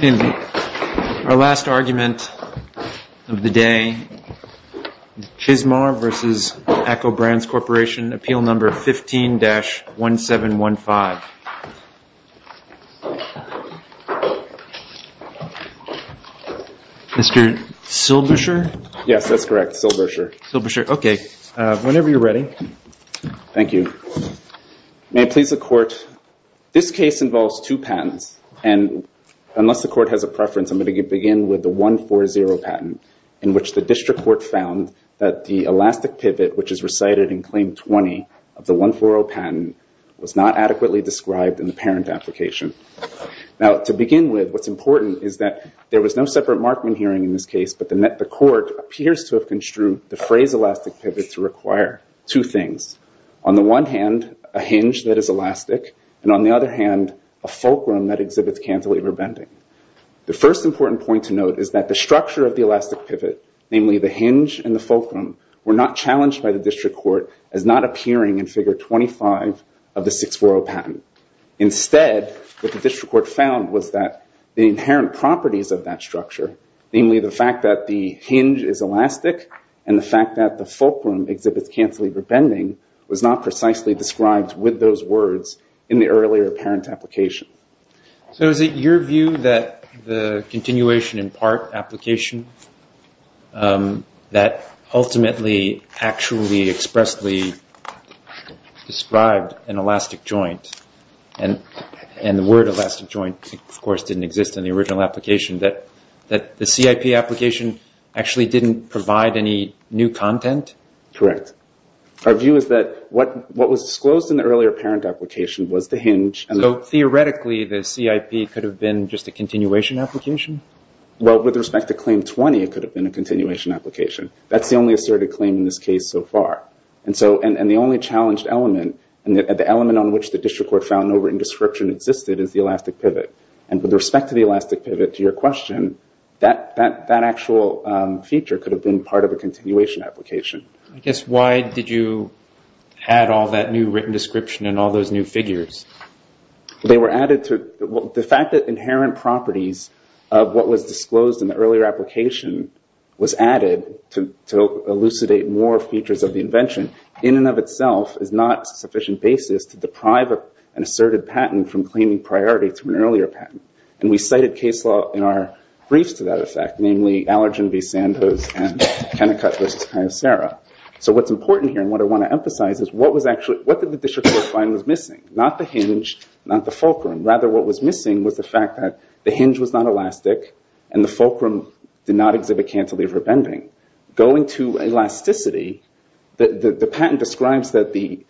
In our last argument of the day, Chizmar v. ACCO Brands Corporation Appeal No. 15-1715. This case involves two patents, and unless the court has a preference, I'm going to begin with the 140 patent in which the district court found that the elastic pivot, which is recited in Claim 20 of the 140 patent, was not adequately described in the parent application. Now, to begin with, what's important is that there was no separate Markman hearing in this case, but the court appears to have construed the phrase elastic pivot to require two things. On the one hand, a hinge that is elastic, and on the other hand, a fulcrum that exhibits cantilever bending. The first important point to note is that the structure of the elastic pivot, namely the hinge and the fulcrum, were not challenged by the district court as not appearing in Figure 25 of the 640 patent. Instead, what the district court found was that the inherent properties of that structure, namely the fact that the hinge is elastic and the fact that the fulcrum exhibits cantilever bending, was not precisely described with those words in the earlier parent application. So is it your view that the continuation in part application, that ultimately actually expressly described an elastic joint, and the word elastic joint, of course, didn't exist in the original application, that the CIP application actually didn't provide any new content? Correct. Our view is that what was disclosed in the earlier parent application was the hinge and So theoretically, the CIP could have been just a continuation application? Well, with respect to Claim 20, it could have been a continuation application. That's the only asserted claim in this case so far. And the only challenged element, and the element on which the district court found no written description existed, is the elastic pivot. And with respect to the elastic pivot, to your question, that actual feature could have been part of a continuation application. I guess, why did you add all that new written description and all those new figures? They were added to... Well, the fact that inherent properties of what was disclosed in the earlier application was added to elucidate more features of the invention, in and of itself, is not a sufficient basis to deprive an asserted patent from claiming priority to an earlier patent. And we cited case law in our briefs to that effect, namely Allergen v. Sandoz and Kennecut v. Kyocera. So what's important here, and what I want to emphasize, is what did the district court find was missing? Not the hinge, not the fulcrum. Rather, what was missing was the fact that the hinge was not elastic, and the fulcrum did not exhibit cantilever bending. Going to elasticity, the patent describes that the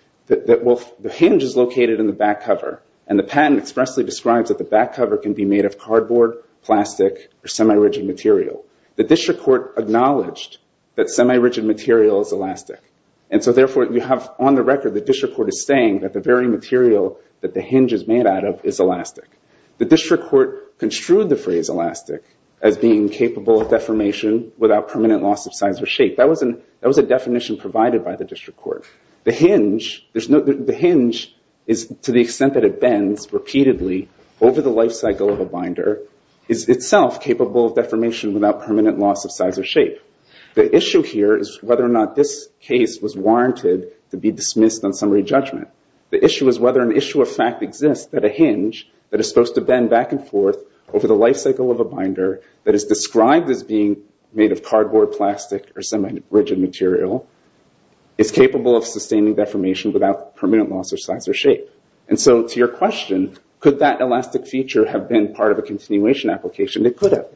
hinge is located in the back cover, and the patent expressly describes that the back cover can be made of cardboard, plastic, or semi-rigid material. The district court acknowledged that semi-rigid material is elastic. And so therefore, you have on the record, the district court is saying that the very material that the hinge is made out of is elastic. The district court construed the phrase elastic as being capable of deformation without permanent loss of size or shape. That was a definition provided by the district court. The hinge, to the extent that it bends repeatedly over the life cycle of a binder, is itself capable of deformation without permanent loss of size or shape. The issue here is whether or not this case was warranted to be dismissed on summary judgment. The issue is whether an issue of fact exists that a hinge that is supposed to bend back and forth over the life cycle of a binder, that is described as being made of cardboard, plastic, or semi-rigid material, is capable of sustaining deformation without permanent loss of size or shape. And so to your question, could that elastic feature have been part of a continuation application? It could have.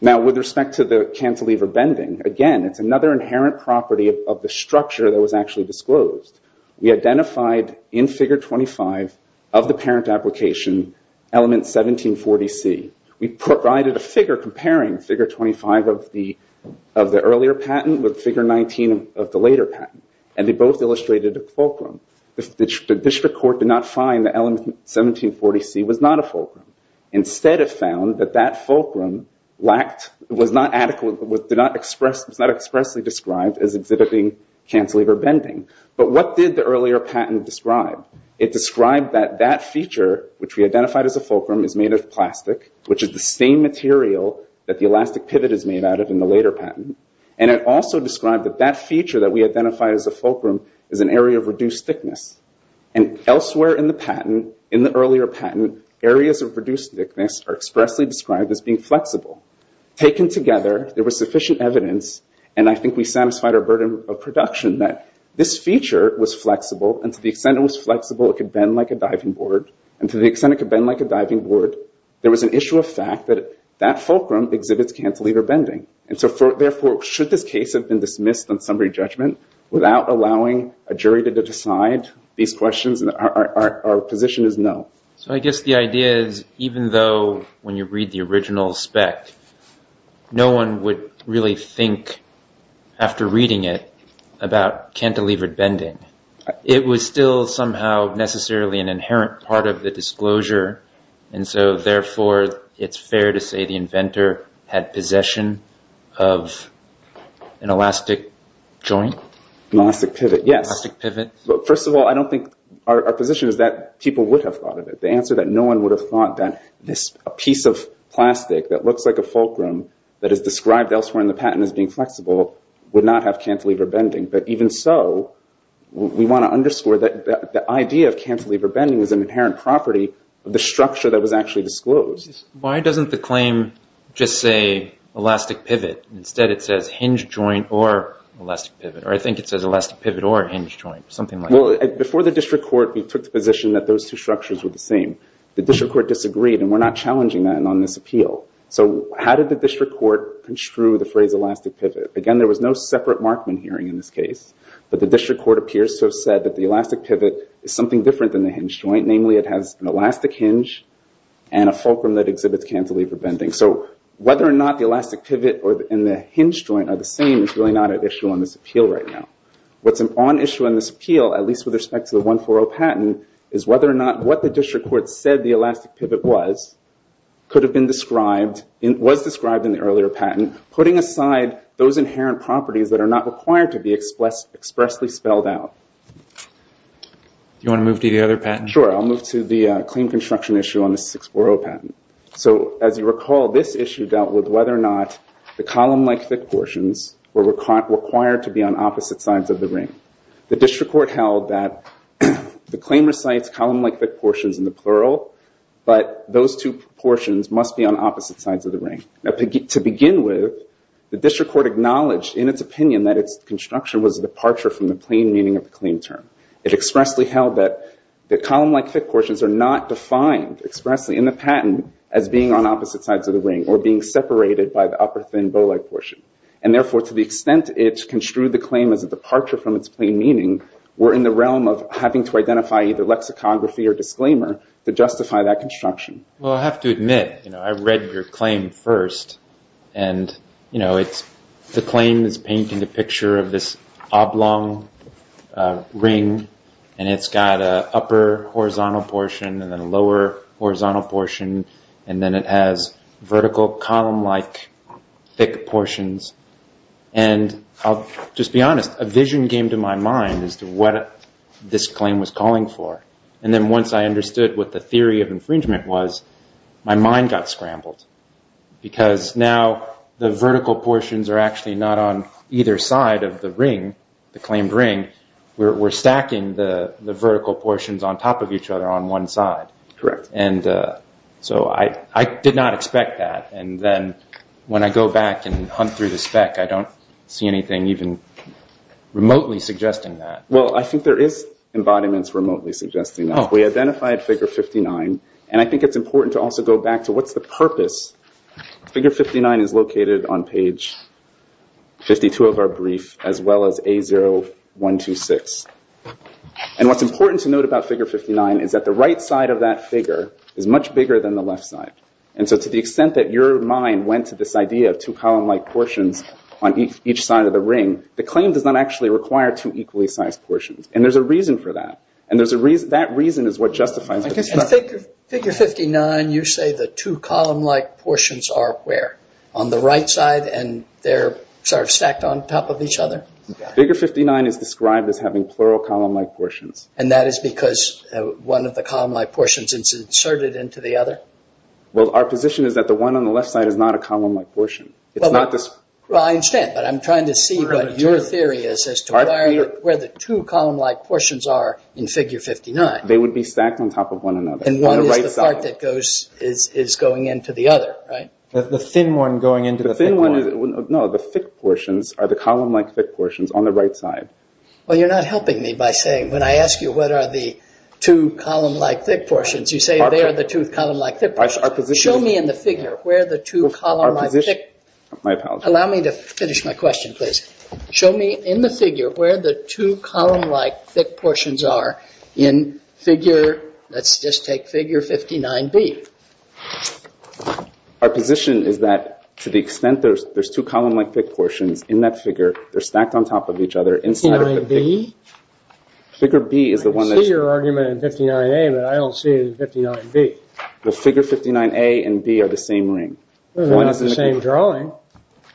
Now with respect to the cantilever bending, again, it's another inherent property of the structure that was actually disclosed. We identified in figure 25 of the parent application element 1740C. We provided a figure comparing figure 25 of the earlier patent with figure 19 of the later patent. And they both illustrated a fulcrum. Instead, it found that that fulcrum was not expressly described as exhibiting cantilever bending. But what did the earlier patent describe? It described that that feature, which we identified as a fulcrum, is made of plastic, which is the same material that the elastic pivot is made out of in the later patent. And it also described that that feature that we identified as a fulcrum is an area of reduced thickness. And elsewhere in the patent, in the earlier patent, areas of reduced thickness are expressly described as being flexible. Taken together, there was sufficient evidence, and I think we satisfied our burden of production, that this feature was flexible. And to the extent it was flexible, it could bend like a diving board. And to the extent it could bend like a diving board, there was an issue of fact that that fulcrum exhibits cantilever bending. And so therefore, should this case have been dismissed on summary judgment without allowing a jury to decide these questions, our position is no. So I guess the idea is, even though when you read the original spec, no one would really think, after reading it, about cantilevered bending. It was still somehow necessarily an inherent part of the disclosure, and so therefore, it's fair to say the inventor had possession of an elastic joint? An elastic pivot, yes. An elastic pivot? First of all, I don't think our position is that people would have thought of it. The answer is that no one would have thought that this piece of plastic that looks like a fulcrum, that is described elsewhere in the patent as being flexible, would not have cantilever bending. But even so, we want to underscore that the idea of cantilever bending is an inherent property of the structure that was actually disclosed. Why doesn't the claim just say elastic pivot, and instead it says hinge joint or elastic pivot? Or I think it says elastic pivot or hinge joint, something like that. Before the district court, we took the position that those two structures were the same. The district court disagreed, and we're not challenging that on this appeal. So how did the district court construe the phrase elastic pivot? Again, there was no separate Markman hearing in this case, but the district court appears to have said that the elastic pivot is something different than the hinge joint, namely it has an elastic hinge and a fulcrum that exhibits cantilever bending. So whether or not the elastic pivot and the hinge joint are the same is really not an issue in this appeal right now. What's on issue in this appeal, at least with respect to the 140 patent, is whether or not what the district court said the elastic pivot was, could have been described, was described in the earlier patent, putting aside those inherent properties that are not required to be expressly spelled out. Do you want to move to the other patent? Sure. I'll move to the claim construction issue on the 640 patent. So as you recall, this issue dealt with whether or not the column-like thick portions were required to be on opposite sides of the ring. The district court held that the claim recites column-like thick portions in the plural, but those two portions must be on opposite sides of the ring. To begin with, the district court acknowledged in its opinion that its construction was a departure from the plain meaning of the claim term. It expressly held that column-like thick portions are not defined expressly in the patent as being on opposite sides of the ring or being separated by the upper thin bow-like portion. And therefore, to the extent it construed the claim as a departure from its plain meaning, we're in the realm of having to identify either lexicography or disclaimer to justify that construction. Well, I have to admit, you know, I read your claim first and, you know, the claim is painting a picture of this oblong ring and it's got a upper horizontal portion and then a lower horizontal portion and then it has vertical column-like thick portions. And I'll just be honest, a vision came to my mind as to what this claim was calling for. And then once I understood what the theory of infringement was, my mind got scrambled because now the vertical portions are actually not on either side of the ring, the claimed ring, we're stacking the vertical portions on top of each other on one side. Correct. And so I did not expect that. And then when I go back and hunt through the spec, I don't see anything even remotely suggesting that. Well, I think there is embodiments remotely suggesting that. We identified figure 59 and I think it's important to also go back to what's the purpose. Figure 59 is located on page 52 of our brief as well as A0126. And what's important to note about figure 59 is that the right side of that figure is much bigger than the left side. And so to the extent that your mind went to this idea of two column-like portions on each side of the ring, the claim does not actually require two equally sized portions. And there's a reason for that. And that reason is what justifies it. Figure 59, you say the two column-like portions are where? On the right side and they're sort of stacked on top of each other? Figure 59 is described as having plural column-like portions. And that is because one of the column-like portions is inserted into the other? Well, our position is that the one on the left side is not a column-like portion. Well, I understand, but I'm trying to see what your theory is as to where the two column-like portions are in figure 59. They would be stacked on top of one another. And one is the part that is going into the other, right? The thin one going into the thick one? No, the thick portions are the column-like thick portions on the right side. Well, you're not helping me by saying, when I ask you what are the two column-like thick portions, you say they are the two column-like thick portions. Show me in the figure where the two column-like thick... Allow me to finish my question, please. Show me in the figure where the two column-like thick portions are in figure, let's just take figure 59B. Our position is that, to the extent that there's two column-like thick portions in that figure, they're stacked on top of each other inside of the... 59B? Figure B is the one that... I can see your argument in 59A, but I don't see it in 59B. The figure 59A and B are the same ring. They're not the same drawing.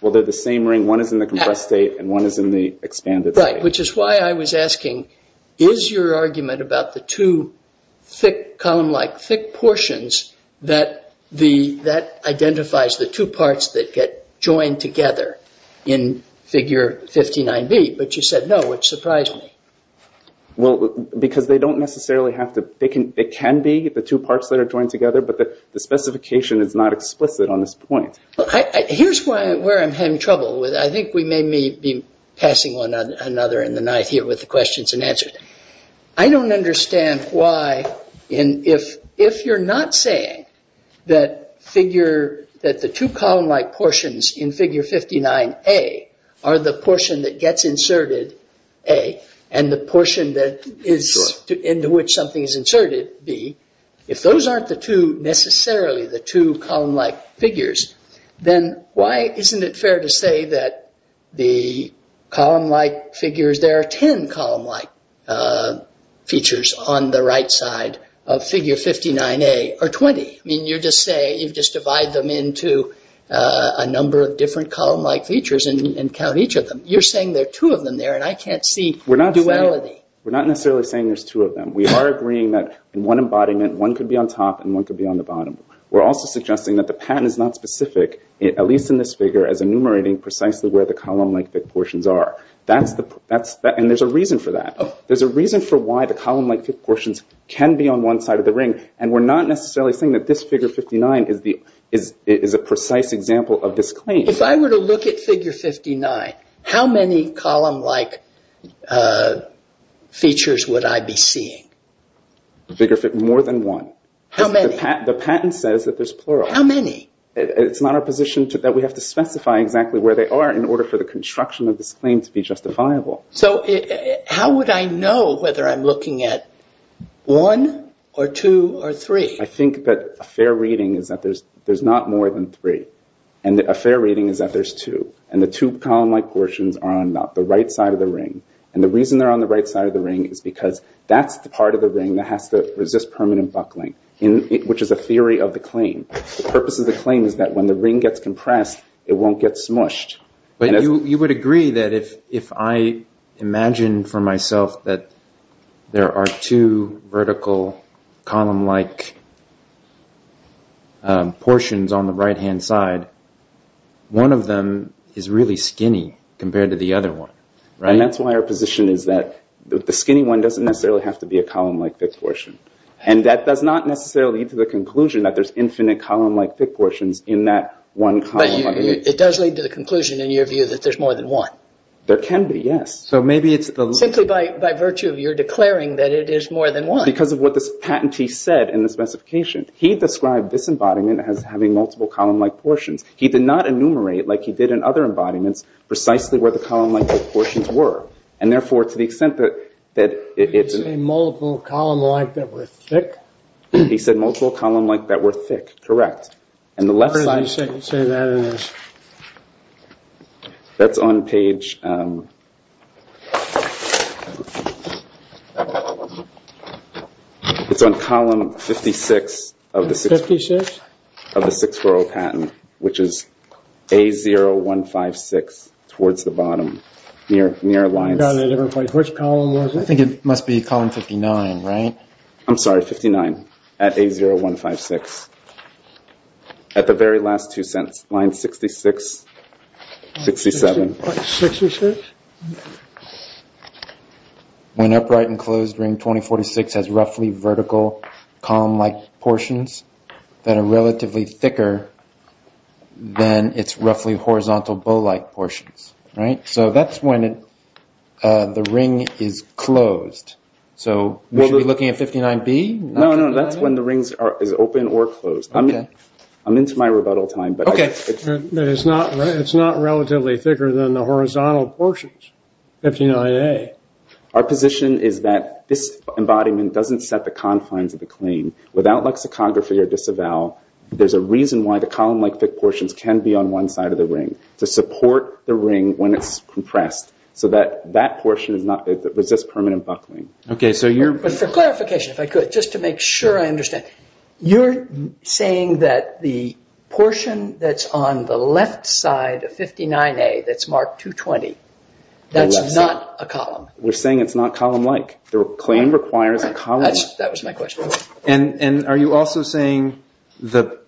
Well, they're the same ring. One is in the compressed state and one is in the expanded state. Right, which is why I was asking, is your argument about the two thick column-like thick portions, that identifies the two parts that get joined together in figure 59B, but you said no, which surprised me. Well, because they don't necessarily have to... They can be, the two parts that are joined together, but the specification is not explicit on this point. Here's where I'm having trouble with it. I think we may be passing on another in the night here with the questions unanswered. I don't understand why, and if you're not saying that the two column-like portions in figure 59A are the portion that gets inserted, A, and the portion into which something is inserted, B, if those aren't necessarily the two column-like figures, then why isn't it features on the right side of figure 59A, or 20? I mean, you're just saying, you've just divided them into a number of different column-like features and count each of them. You're saying there are two of them there, and I can't see duality. We're not necessarily saying there's two of them. We are agreeing that in one embodiment, one could be on top and one could be on the bottom. We're also suggesting that the patent is not specific, at least in this figure, as enumerating precisely where the column-like thick portions are, and there's a reason for that. There's a reason for why the column-like portions can be on one side of the ring, and we're not necessarily saying that this figure 59 is a precise example of this claim. If I were to look at figure 59, how many column-like features would I be seeing? More than one. How many? The patent says that there's plural. How many? It's not our position that we have to specify exactly where they are in order for the construction of this claim to be justifiable. So how would I know whether I'm looking at one or two or three? I think that a fair reading is that there's not more than three, and a fair reading is that there's two, and the two column-like portions are on the right side of the ring. The reason they're on the right side of the ring is because that's the part of the ring that has to resist permanent buckling, which is a theory of the claim. The purpose of the claim is that when the ring gets compressed, it won't get smushed. You would agree that if I imagine for myself that there are two vertical column-like portions on the right-hand side, one of them is really skinny compared to the other one, right? That's why our position is that the skinny one doesn't necessarily have to be a column-like thick portion, and that does not necessarily lead to the conclusion that there's infinite column-like thick portions in that one column underneath. But it does lead to the conclusion, in your view, that there's more than one. There can be, yes. So maybe it's the... Simply by virtue of your declaring that it is more than one. Because of what this patentee said in the specification. He described this embodiment as having multiple column-like portions. He did not enumerate like he did in other embodiments precisely where the column-like thick portions were, and therefore, to the extent that it's... Did he say multiple column-like that were thick? He said multiple column-like that were thick, correct. And the left side... Where did he say that is? That's on page... It's on column 56 of the 6-4-0 patent, which is A0156 towards the bottom, near Alliance. Which column was it? I think it must be column 59, right? I'm sorry, 59, at A0156. At the very last two lines, 66, 67. 66? When upright and closed, ring 2046 has roughly vertical column-like portions that are relatively thicker than its roughly horizontal bow-like portions, right? So that's when the ring is closed. So we should be looking at 59B? No, no, that's when the ring is open or closed. I'm into my rebuttal time, but... Okay. But it's not relatively thicker than the horizontal portions, 59A. Our position is that this embodiment doesn't set the confines of the claim. Without lexicography or disavow, there's a reason why the column-like thick portions can be on one side of the ring, to support the ring when it's compressed, so that that But for clarification, if I could, just to make sure I understand, you're saying that the portion that's on the left side of 59A, that's marked 220, that's not a column? We're saying it's not column-like. The claim requires a column-like. That was my question. And are you also saying that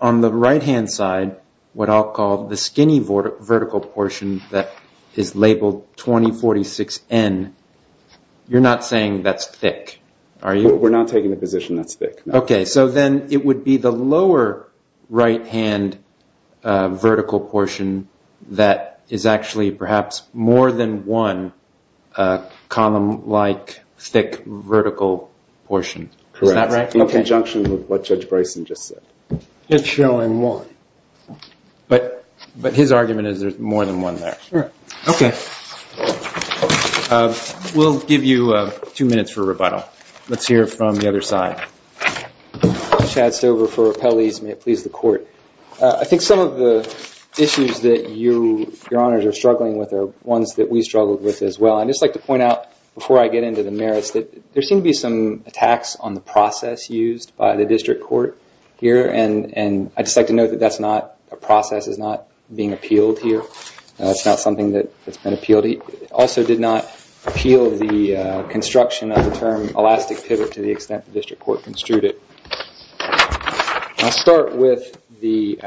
on the right-hand side, what I'll call the skinny vertical portion that is labeled 2046N, you're not saying that's thick? Are you? We're not taking the position that's thick, no. Okay, so then it would be the lower right-hand vertical portion that is actually perhaps more than one column-like thick vertical portion, is that right? Correct, in conjunction with what Judge Bryson just said. It's showing one. But his argument is there's more than one there. Sure. Okay. We'll give you two minutes for rebuttal. Let's hear from the other side. Chad Stover for Appellees, may it please the Court. I think some of the issues that your honors are struggling with are ones that we struggled with as well. I'd just like to point out, before I get into the merits, that there seem to be some attacks on the process used by the District Court here, and I'd just like to note that a process is not being appealed here, and that's not something that's been appealed. It also did not appeal the construction of the term elastic pivot to the extent the District Court construed it. I'll start with the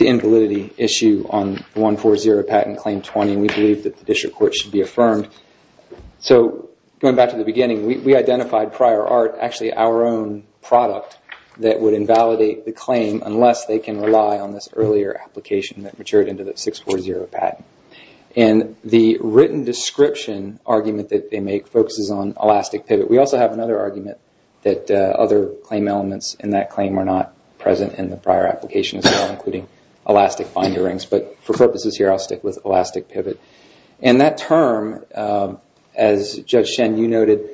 invalidity issue on 140, Patent Claim 20, and we believe that the District Court should be affirmed. Going back to the beginning, we identified prior art, actually our own product, that would invalidate the claim unless they can rely on this earlier application that matured into the 640 patent. The written description argument that they make focuses on elastic pivot. We also have another argument that other claim elements in that claim are not present in the prior application as well, including elastic binder rings. For purposes here, I'll stick with elastic pivot. That term, as Judge Shen, you noted,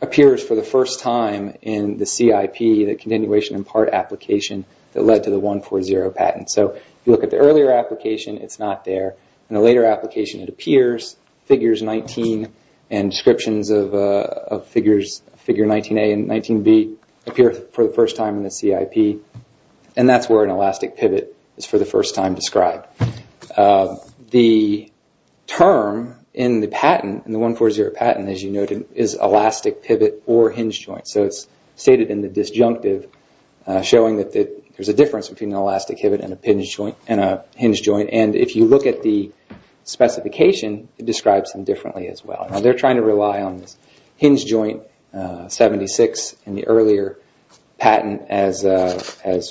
appears for the first time in the CIP, the continuation in part application that led to the 140 patent. If you look at the earlier application, it's not there. In the later application, it appears, figures 19 and descriptions of figure 19A and 19B appear for the first time in the CIP, and that's where an elastic pivot is for the first time described. The term in the patent, in the 140 patent, as you noted, is elastic pivot or hinge joint. It's stated in the disjunctive, showing that there's a difference between an elastic pivot and a hinge joint. If you look at the specification, it describes them differently as well. They're trying to rely on this hinge joint 76 in the earlier patent as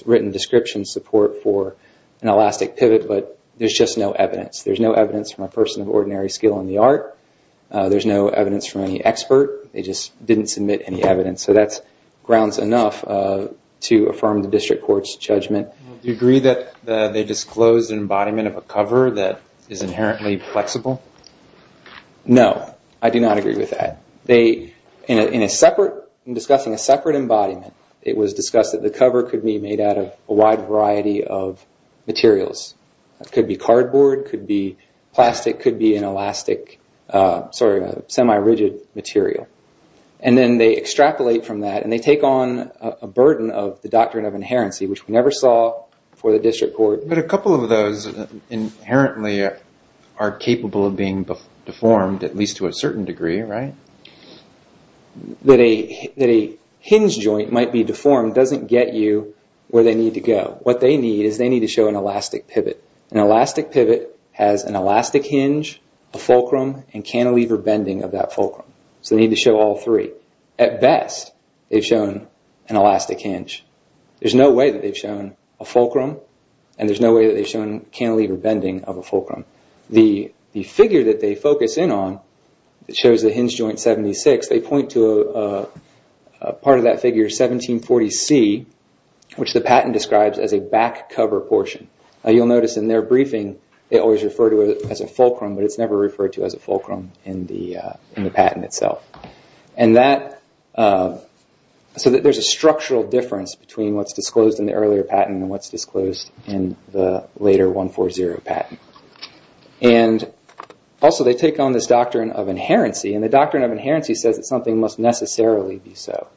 written description support for an elastic pivot, but there's just no evidence. There's no evidence from a person of ordinary skill in the art. There's no evidence from any expert. They just didn't submit any evidence, so that grounds enough to affirm the district court's judgment. Do you agree that they disclosed an embodiment of a cover that is inherently flexible? No, I do not agree with that. In discussing a separate embodiment, it was discussed that the cover could be made out of a wide variety of materials. Could be cardboard, could be plastic, could be an elastic, sorry, semi-rigid material. And then they extrapolate from that, and they take on a burden of the doctrine of inherency, which we never saw before the district court. But a couple of those inherently are capable of being deformed, at least to a certain degree, right? That a hinge joint might be deformed doesn't get you where they need to go. What they need is they need to show an elastic pivot. An elastic pivot has an elastic hinge, a fulcrum, and cantilever bending of that fulcrum. So they need to show all three. At best, they've shown an elastic hinge. There's no way that they've shown a fulcrum, and there's no way that they've shown cantilever bending of a fulcrum. The figure that they focus in on that shows the hinge joint 76, they point to a part of that figure, 1740C, which the patent describes as a back cover portion. You'll notice in their briefing, they always refer to it as a fulcrum, but it's never referred to as a fulcrum in the patent itself. And that, so that there's a structural difference between what's disclosed in the earlier patent and what's disclosed in the later 140 patent. And also, they take on this doctrine of inherency, and the doctrine of inherency says that something must necessarily be so.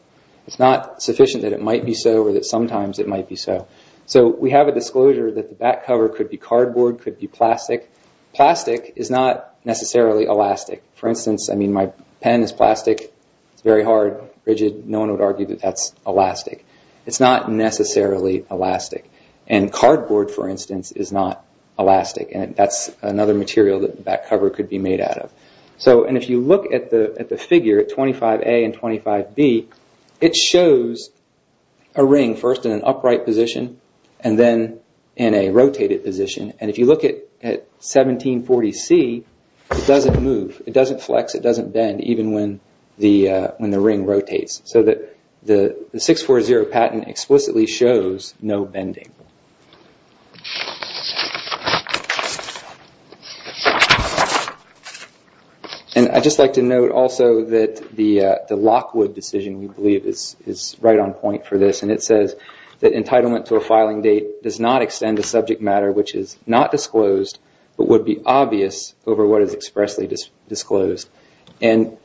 It's not sufficient that it might be so, or that sometimes it might be so. So we have a disclosure that the back cover could be cardboard, could be plastic. Plastic is not necessarily elastic. For instance, I mean, my pen is plastic, it's very hard, rigid. No one would argue that that's elastic. It's not necessarily elastic, and cardboard, for instance, is not elastic, and that's another material that the back cover could be made out of. So if you look at the figure, 25A and 25B, it shows a ring, first in an upright position, and then in a rotated position. And if you look at 1740C, it doesn't move, it doesn't flex, it doesn't bend, even when the ring rotates. So the 640 patent explicitly shows no bending. And I'd just like to note also that the Lockwood decision, we believe, is right on point for this, and it says that entitlement to a filing date does not extend to subject matter which is not disclosed, but would be obvious over what is expressly disclosed. And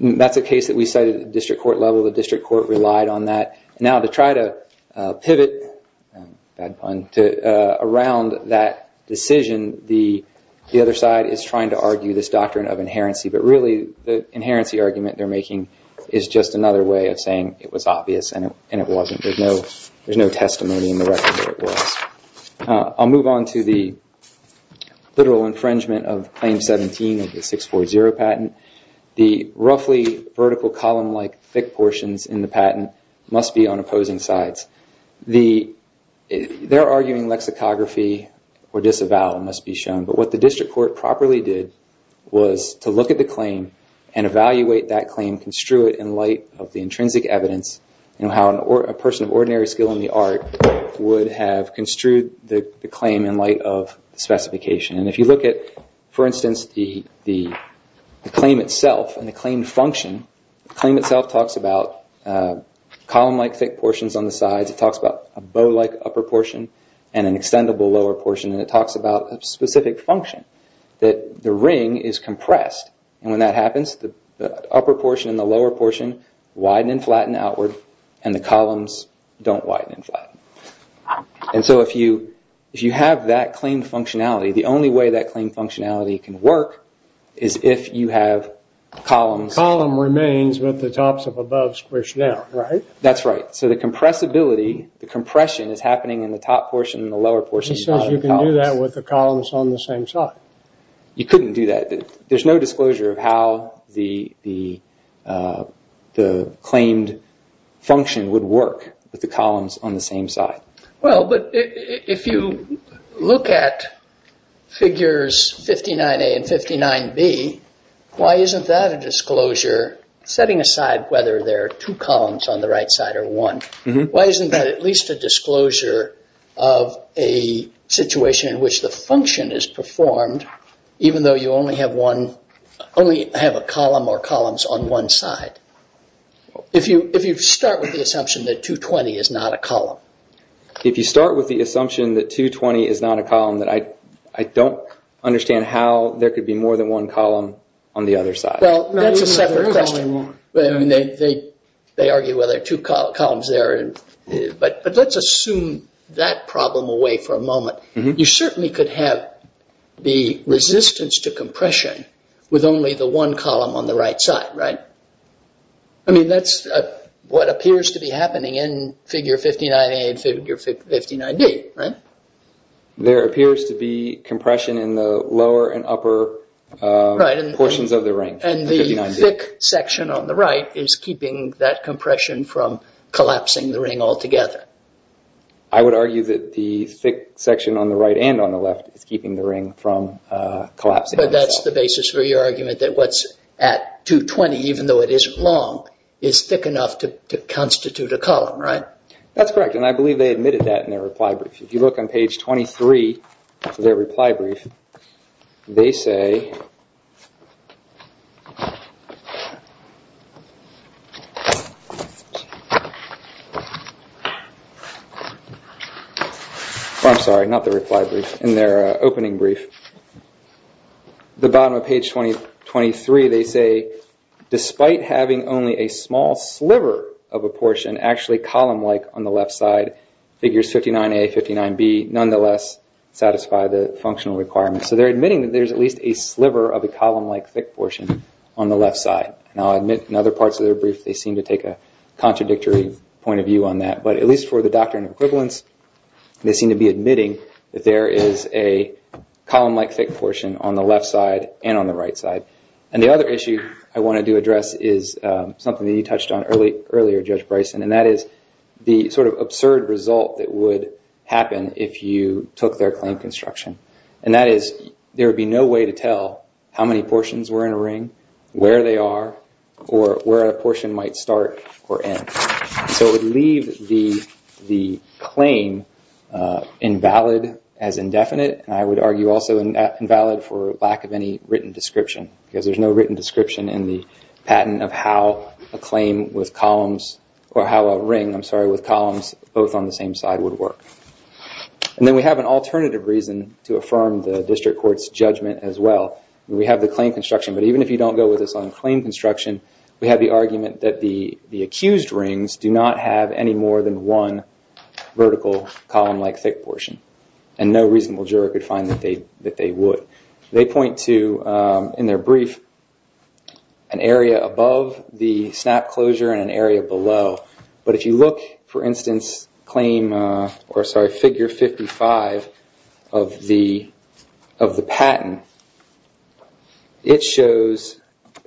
that's a case that we cited at the district court level. The district court relied on that. Now to try to pivot, bad pun, around that decision, the other side is trying to argue this doctrine of inherency. But really, the inherency argument they're making is just another way of saying it was obvious and it wasn't, there's no testimony in the record that it was. I'll move on to the literal infringement of Claim 17 of the 640 patent. The roughly vertical column-like thick portions in the patent must be on opposing sides. They're arguing lexicography or disavowal must be shown, but what the district court properly did was to look at the claim and evaluate that claim, construe it in light of the intrinsic evidence, and how a person of ordinary skill in the art would have construed the claim in light of specification. And if you look at, for instance, the claim itself and the claim function, the claim itself talks about column-like thick portions on the sides, it talks about a bow-like upper portion and an extendable lower portion, and it talks about a specific function, that the upper portion and the lower portion widen and flatten outward, and the columns don't widen and flatten. And so if you have that claim functionality, the only way that claim functionality can work is if you have columns... Column remains, but the tops of above squish down, right? That's right. So the compressibility, the compression is happening in the top portion and the lower portion of the columns. But it says you can do that with the columns on the same side. You couldn't do that. There's no disclosure of how the claimed function would work with the columns on the same side. Well, but if you look at figures 59A and 59B, why isn't that a disclosure, setting aside whether there are two columns on the right side or one, why isn't that at least a disclosure of a situation in which the function is performed, even though you only have a column or columns on one side? If you start with the assumption that 220 is not a column. If you start with the assumption that 220 is not a column, then I don't understand how there could be more than one column on the other side. Well, that's a separate question. They argue whether two columns there, but let's assume that problem away for a moment. You certainly could have the resistance to compression with only the one column on the right side, right? I mean, that's what appears to be happening in figure 59A and figure 59B, right? There appears to be compression in the lower and upper portions of the range. And the thick section on the right is keeping that compression from collapsing the ring altogether. I would argue that the thick section on the right and on the left is keeping the ring from collapsing. But that's the basis for your argument that what's at 220, even though it isn't long, is thick enough to constitute a column, right? That's correct. And I believe they admitted that in their reply brief. If you look on page 23 of their reply brief, they say, I'm sorry, not their reply brief, in their opening brief. The bottom of page 23, they say, despite having only a small sliver of a portion actually column-like on the left side, figures 59A, 59B nonetheless satisfy the functional requirements. So they're admitting that there's at least a sliver of a column-like thick portion on the left side. And I'll admit in other parts of their brief, they seem to take a contradictory point of view on that. But at least for the doctrine of equivalence, they seem to be admitting that there is a column-like thick portion on the left side and on the right side. And the other issue I wanted to address is something that you touched on earlier, Judge Bryson. And that is the sort of absurd result that would happen if you took their claim construction. And that is, there would be no way to tell how many portions were in a ring, where they are, or where a portion might start or end. So it would leave the claim invalid as indefinite, and I would argue also invalid for lack of any written description, because there's no written description in the patent of how a ring, I'm sorry, with columns both on the same side would work. And then we have an alternative reason to affirm the district court's judgment as well. We have the claim construction, but even if you don't go with us on claim construction, we have the argument that the accused rings do not have any more than one vertical column-like thick portion. And no reasonable juror could find that they would. They point to, in their brief, an area above the snap closure and an area below. But if you look, for instance, claim, or sorry, figure 55 of the patent, it shows,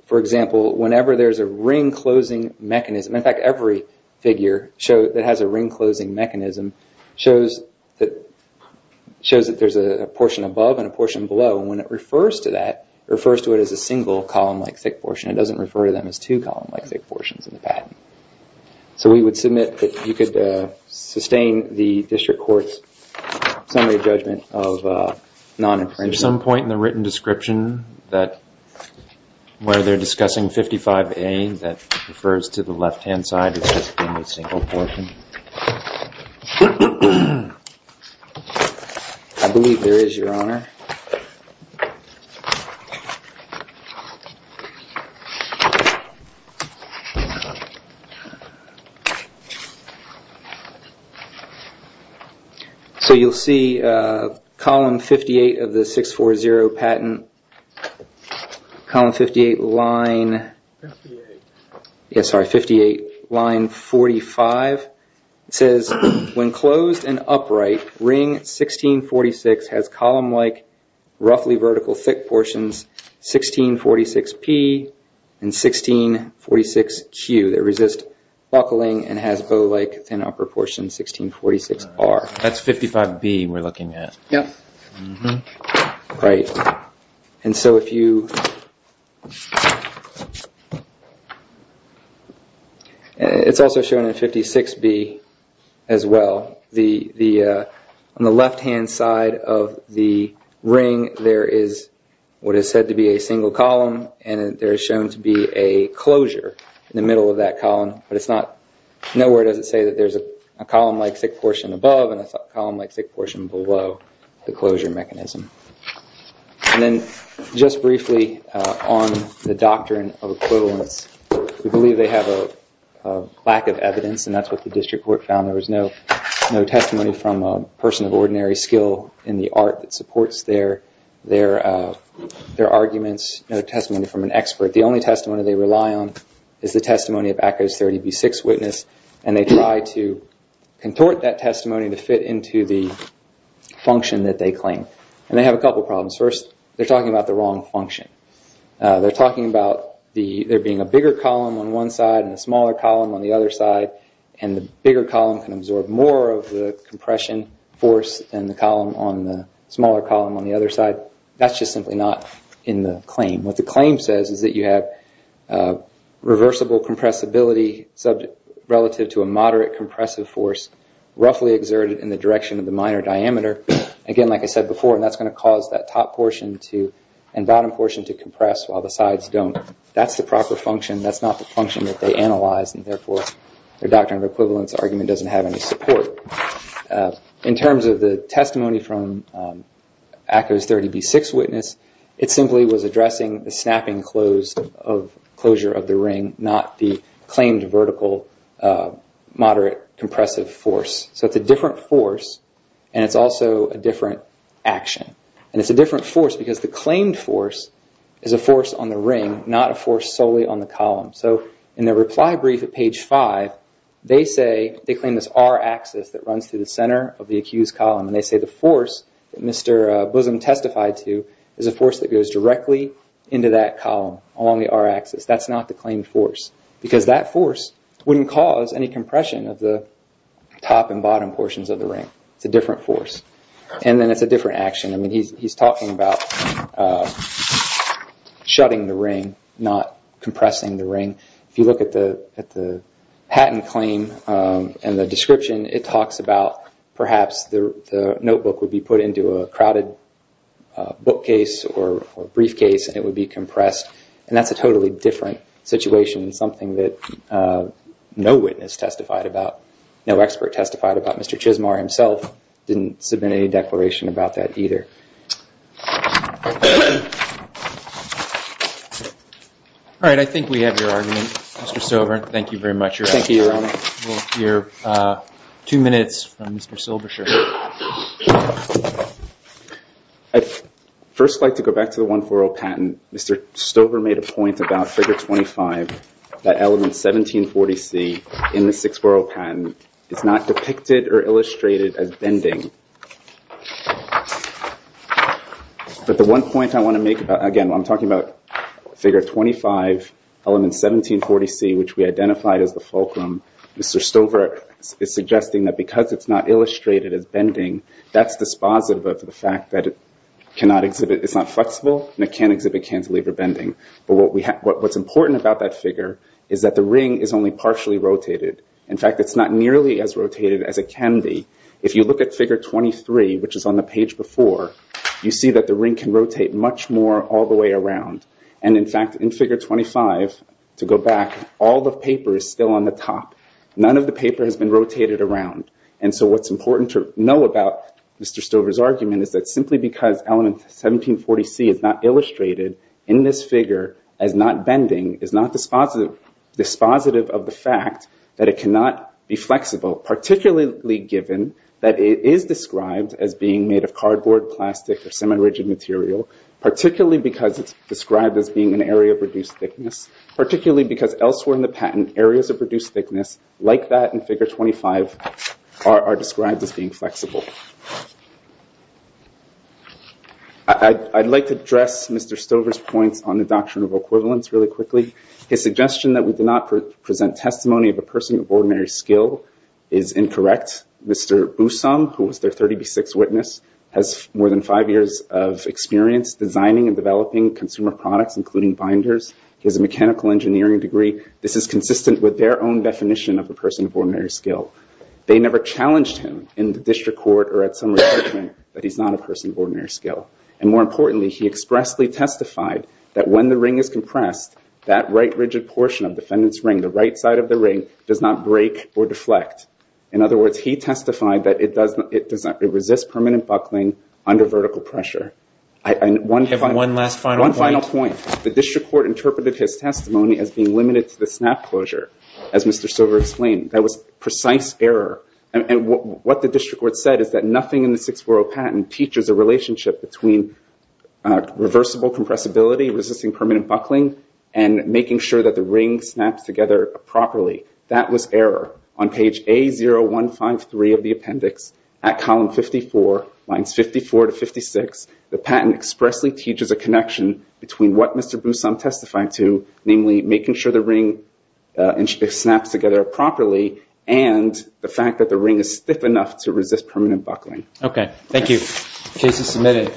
for example, whenever there's a ring-closing mechanism, in fact every figure that has a ring-closing mechanism shows that there's a portion above and a portion below. And when it refers to that, it refers to it as a single column-like thick portion. It doesn't refer to them as two column-like thick portions in the patent. So we would submit that you could sustain the district court's summary judgment of non-infringement. Is there some point in the written description that, where they're discussing 55A, that refers to the left-hand side as just being a single portion? I believe there is, Your Honor. So you'll see column 58 of the 640 patent, column 58, line 58. Line 45 says, when closed and upright, ring 1646 has column-like roughly vertical thick portions 1646P and 1646Q that resist buckling and has bow-like thin upper portions, 1646R. That's 55B we're looking at. Right. And so if you, it's also shown in 56B as well, on the left-hand side of the ring there is what is said to be a single column and there is shown to be a closure in the middle of that column, but it's not, nowhere does it say that there's a column-like thick portion above and a column-like thick portion below the closure mechanism. And then just briefly on the doctrine of equivalence, we believe they have a lack of evidence and that's what the district court found. There was no testimony from a person of ordinary skill in the art that supports their arguments, no testimony from an expert. The only testimony they rely on is the testimony of ACCO's 30B6 witness and they try to contort that testimony to fit into the function that they claim. And they have a couple of problems. First, they're talking about the wrong function. They're talking about there being a bigger column on one side and a smaller column on the other side and the bigger column can absorb more of the compression force than the smaller column on the other side. That's just simply not in the claim. What the claim says is that you have reversible compressibility relative to a moderate compressive force roughly exerted in the direction of the minor diameter. Again, like I said before, that's going to cause that top portion and bottom portion to compress while the sides don't. That's the proper function. That's not the function that they analyzed and therefore their doctrine of equivalence argument doesn't have any support. In terms of the testimony from ACCO's 30B6 witness, it simply was addressing the snapping and closure of the ring, not the claimed vertical moderate compressive force. It's a different force and it's also a different action. It's a different force because the claimed force is a force on the ring, not a force solely on the column. In their reply brief at page 5, they claim this R axis that runs through the center of the accused column. They say the force that Mr. Blissom testified to is a force that goes directly into that column along the R axis. That's not the claimed force because that force wouldn't cause any compression of the top and bottom portions of the ring. It's a different force and then it's a different action. He's talking about shutting the ring, not compressing the ring. If you look at the patent claim and the description, it talks about perhaps the notebook would be put into a crowded bookcase or briefcase and it would be compressed. That's a totally different situation and something that no witness testified about, no expert testified about. Mr. Chismar himself didn't submit any declaration about that either. All right, I think we have your argument, Mr. Stover. Thank you very much. Thank you, Your Honor. We'll hear two minutes from Mr. Silbersher. I'd first like to go back to the 140 patent. Mr. Stover made a point about figure 25, that element 1740C in the 640 patent is not depicted or illustrated as bending. But the one point I want to make about, again, I'm talking about figure 25, element 1740C, which we identified as the fulcrum, Mr. Stover is suggesting that because it's not illustrated as bending, that's dispositive of the fact that it's not flexible and it can't exhibit cantilever bending. What's important about that figure is that the ring is only partially rotated. In fact, it's not nearly as rotated as it can be. If you look at figure 23, which is on the page before, you see that the ring can rotate much more all the way around. And in fact, in figure 25, to go back, all the paper is still on the top. None of the paper has been rotated around. And so what's important to know about Mr. Stover's argument is that simply because element 1740C is not illustrated in this figure as not bending is not dispositive of the fact that it cannot be flexible, particularly given that it is described as being made of cardboard, plastic, or semi-rigid material, particularly because it's described as being an area of reduced thickness, particularly because elsewhere in the patent, areas of reduced thickness like that in figure 25 are described as being flexible. I'd like to address Mr. Stover's points on the doctrine of equivalence really quickly. His suggestion that we do not present testimony of a person of ordinary skill is incorrect. Mr. Boussam, who was their 30B6 witness, has more than five years of experience designing and developing consumer products, including binders. He has a mechanical engineering degree. This is consistent with their own definition of a person of ordinary skill. They never challenged him in the district court or at some recruitment that he's not a person of ordinary skill. And more importantly, he expressly testified that when the ring is compressed, that right rigid portion of defendant's ring, the right side of the ring, does not break or deflect. In other words, he testified that it does not resist permanent buckling under vertical pressure. And one final point. The district court interpreted his testimony as being limited to the snap closure, as Mr. Stover explained. That was precise error. And what the district court said is that nothing in the 640 patent teaches a relationship between reversible compressibility, resisting permanent buckling, and making sure that the ring snaps together properly. That was error. On page A0153 of the appendix, at column 54, lines 54 to 56, the patent expressly teaches a connection between what Mr. Boussam testified to, namely making sure the ring snaps together properly, and the fact that the ring is stiff enough to resist permanent buckling. Okay. Thank you. Case is submitted.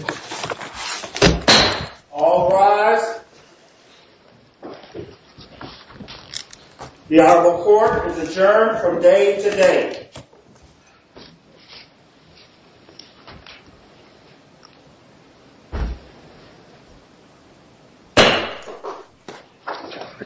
All rise. The ad hoc court is adjourned from day to day.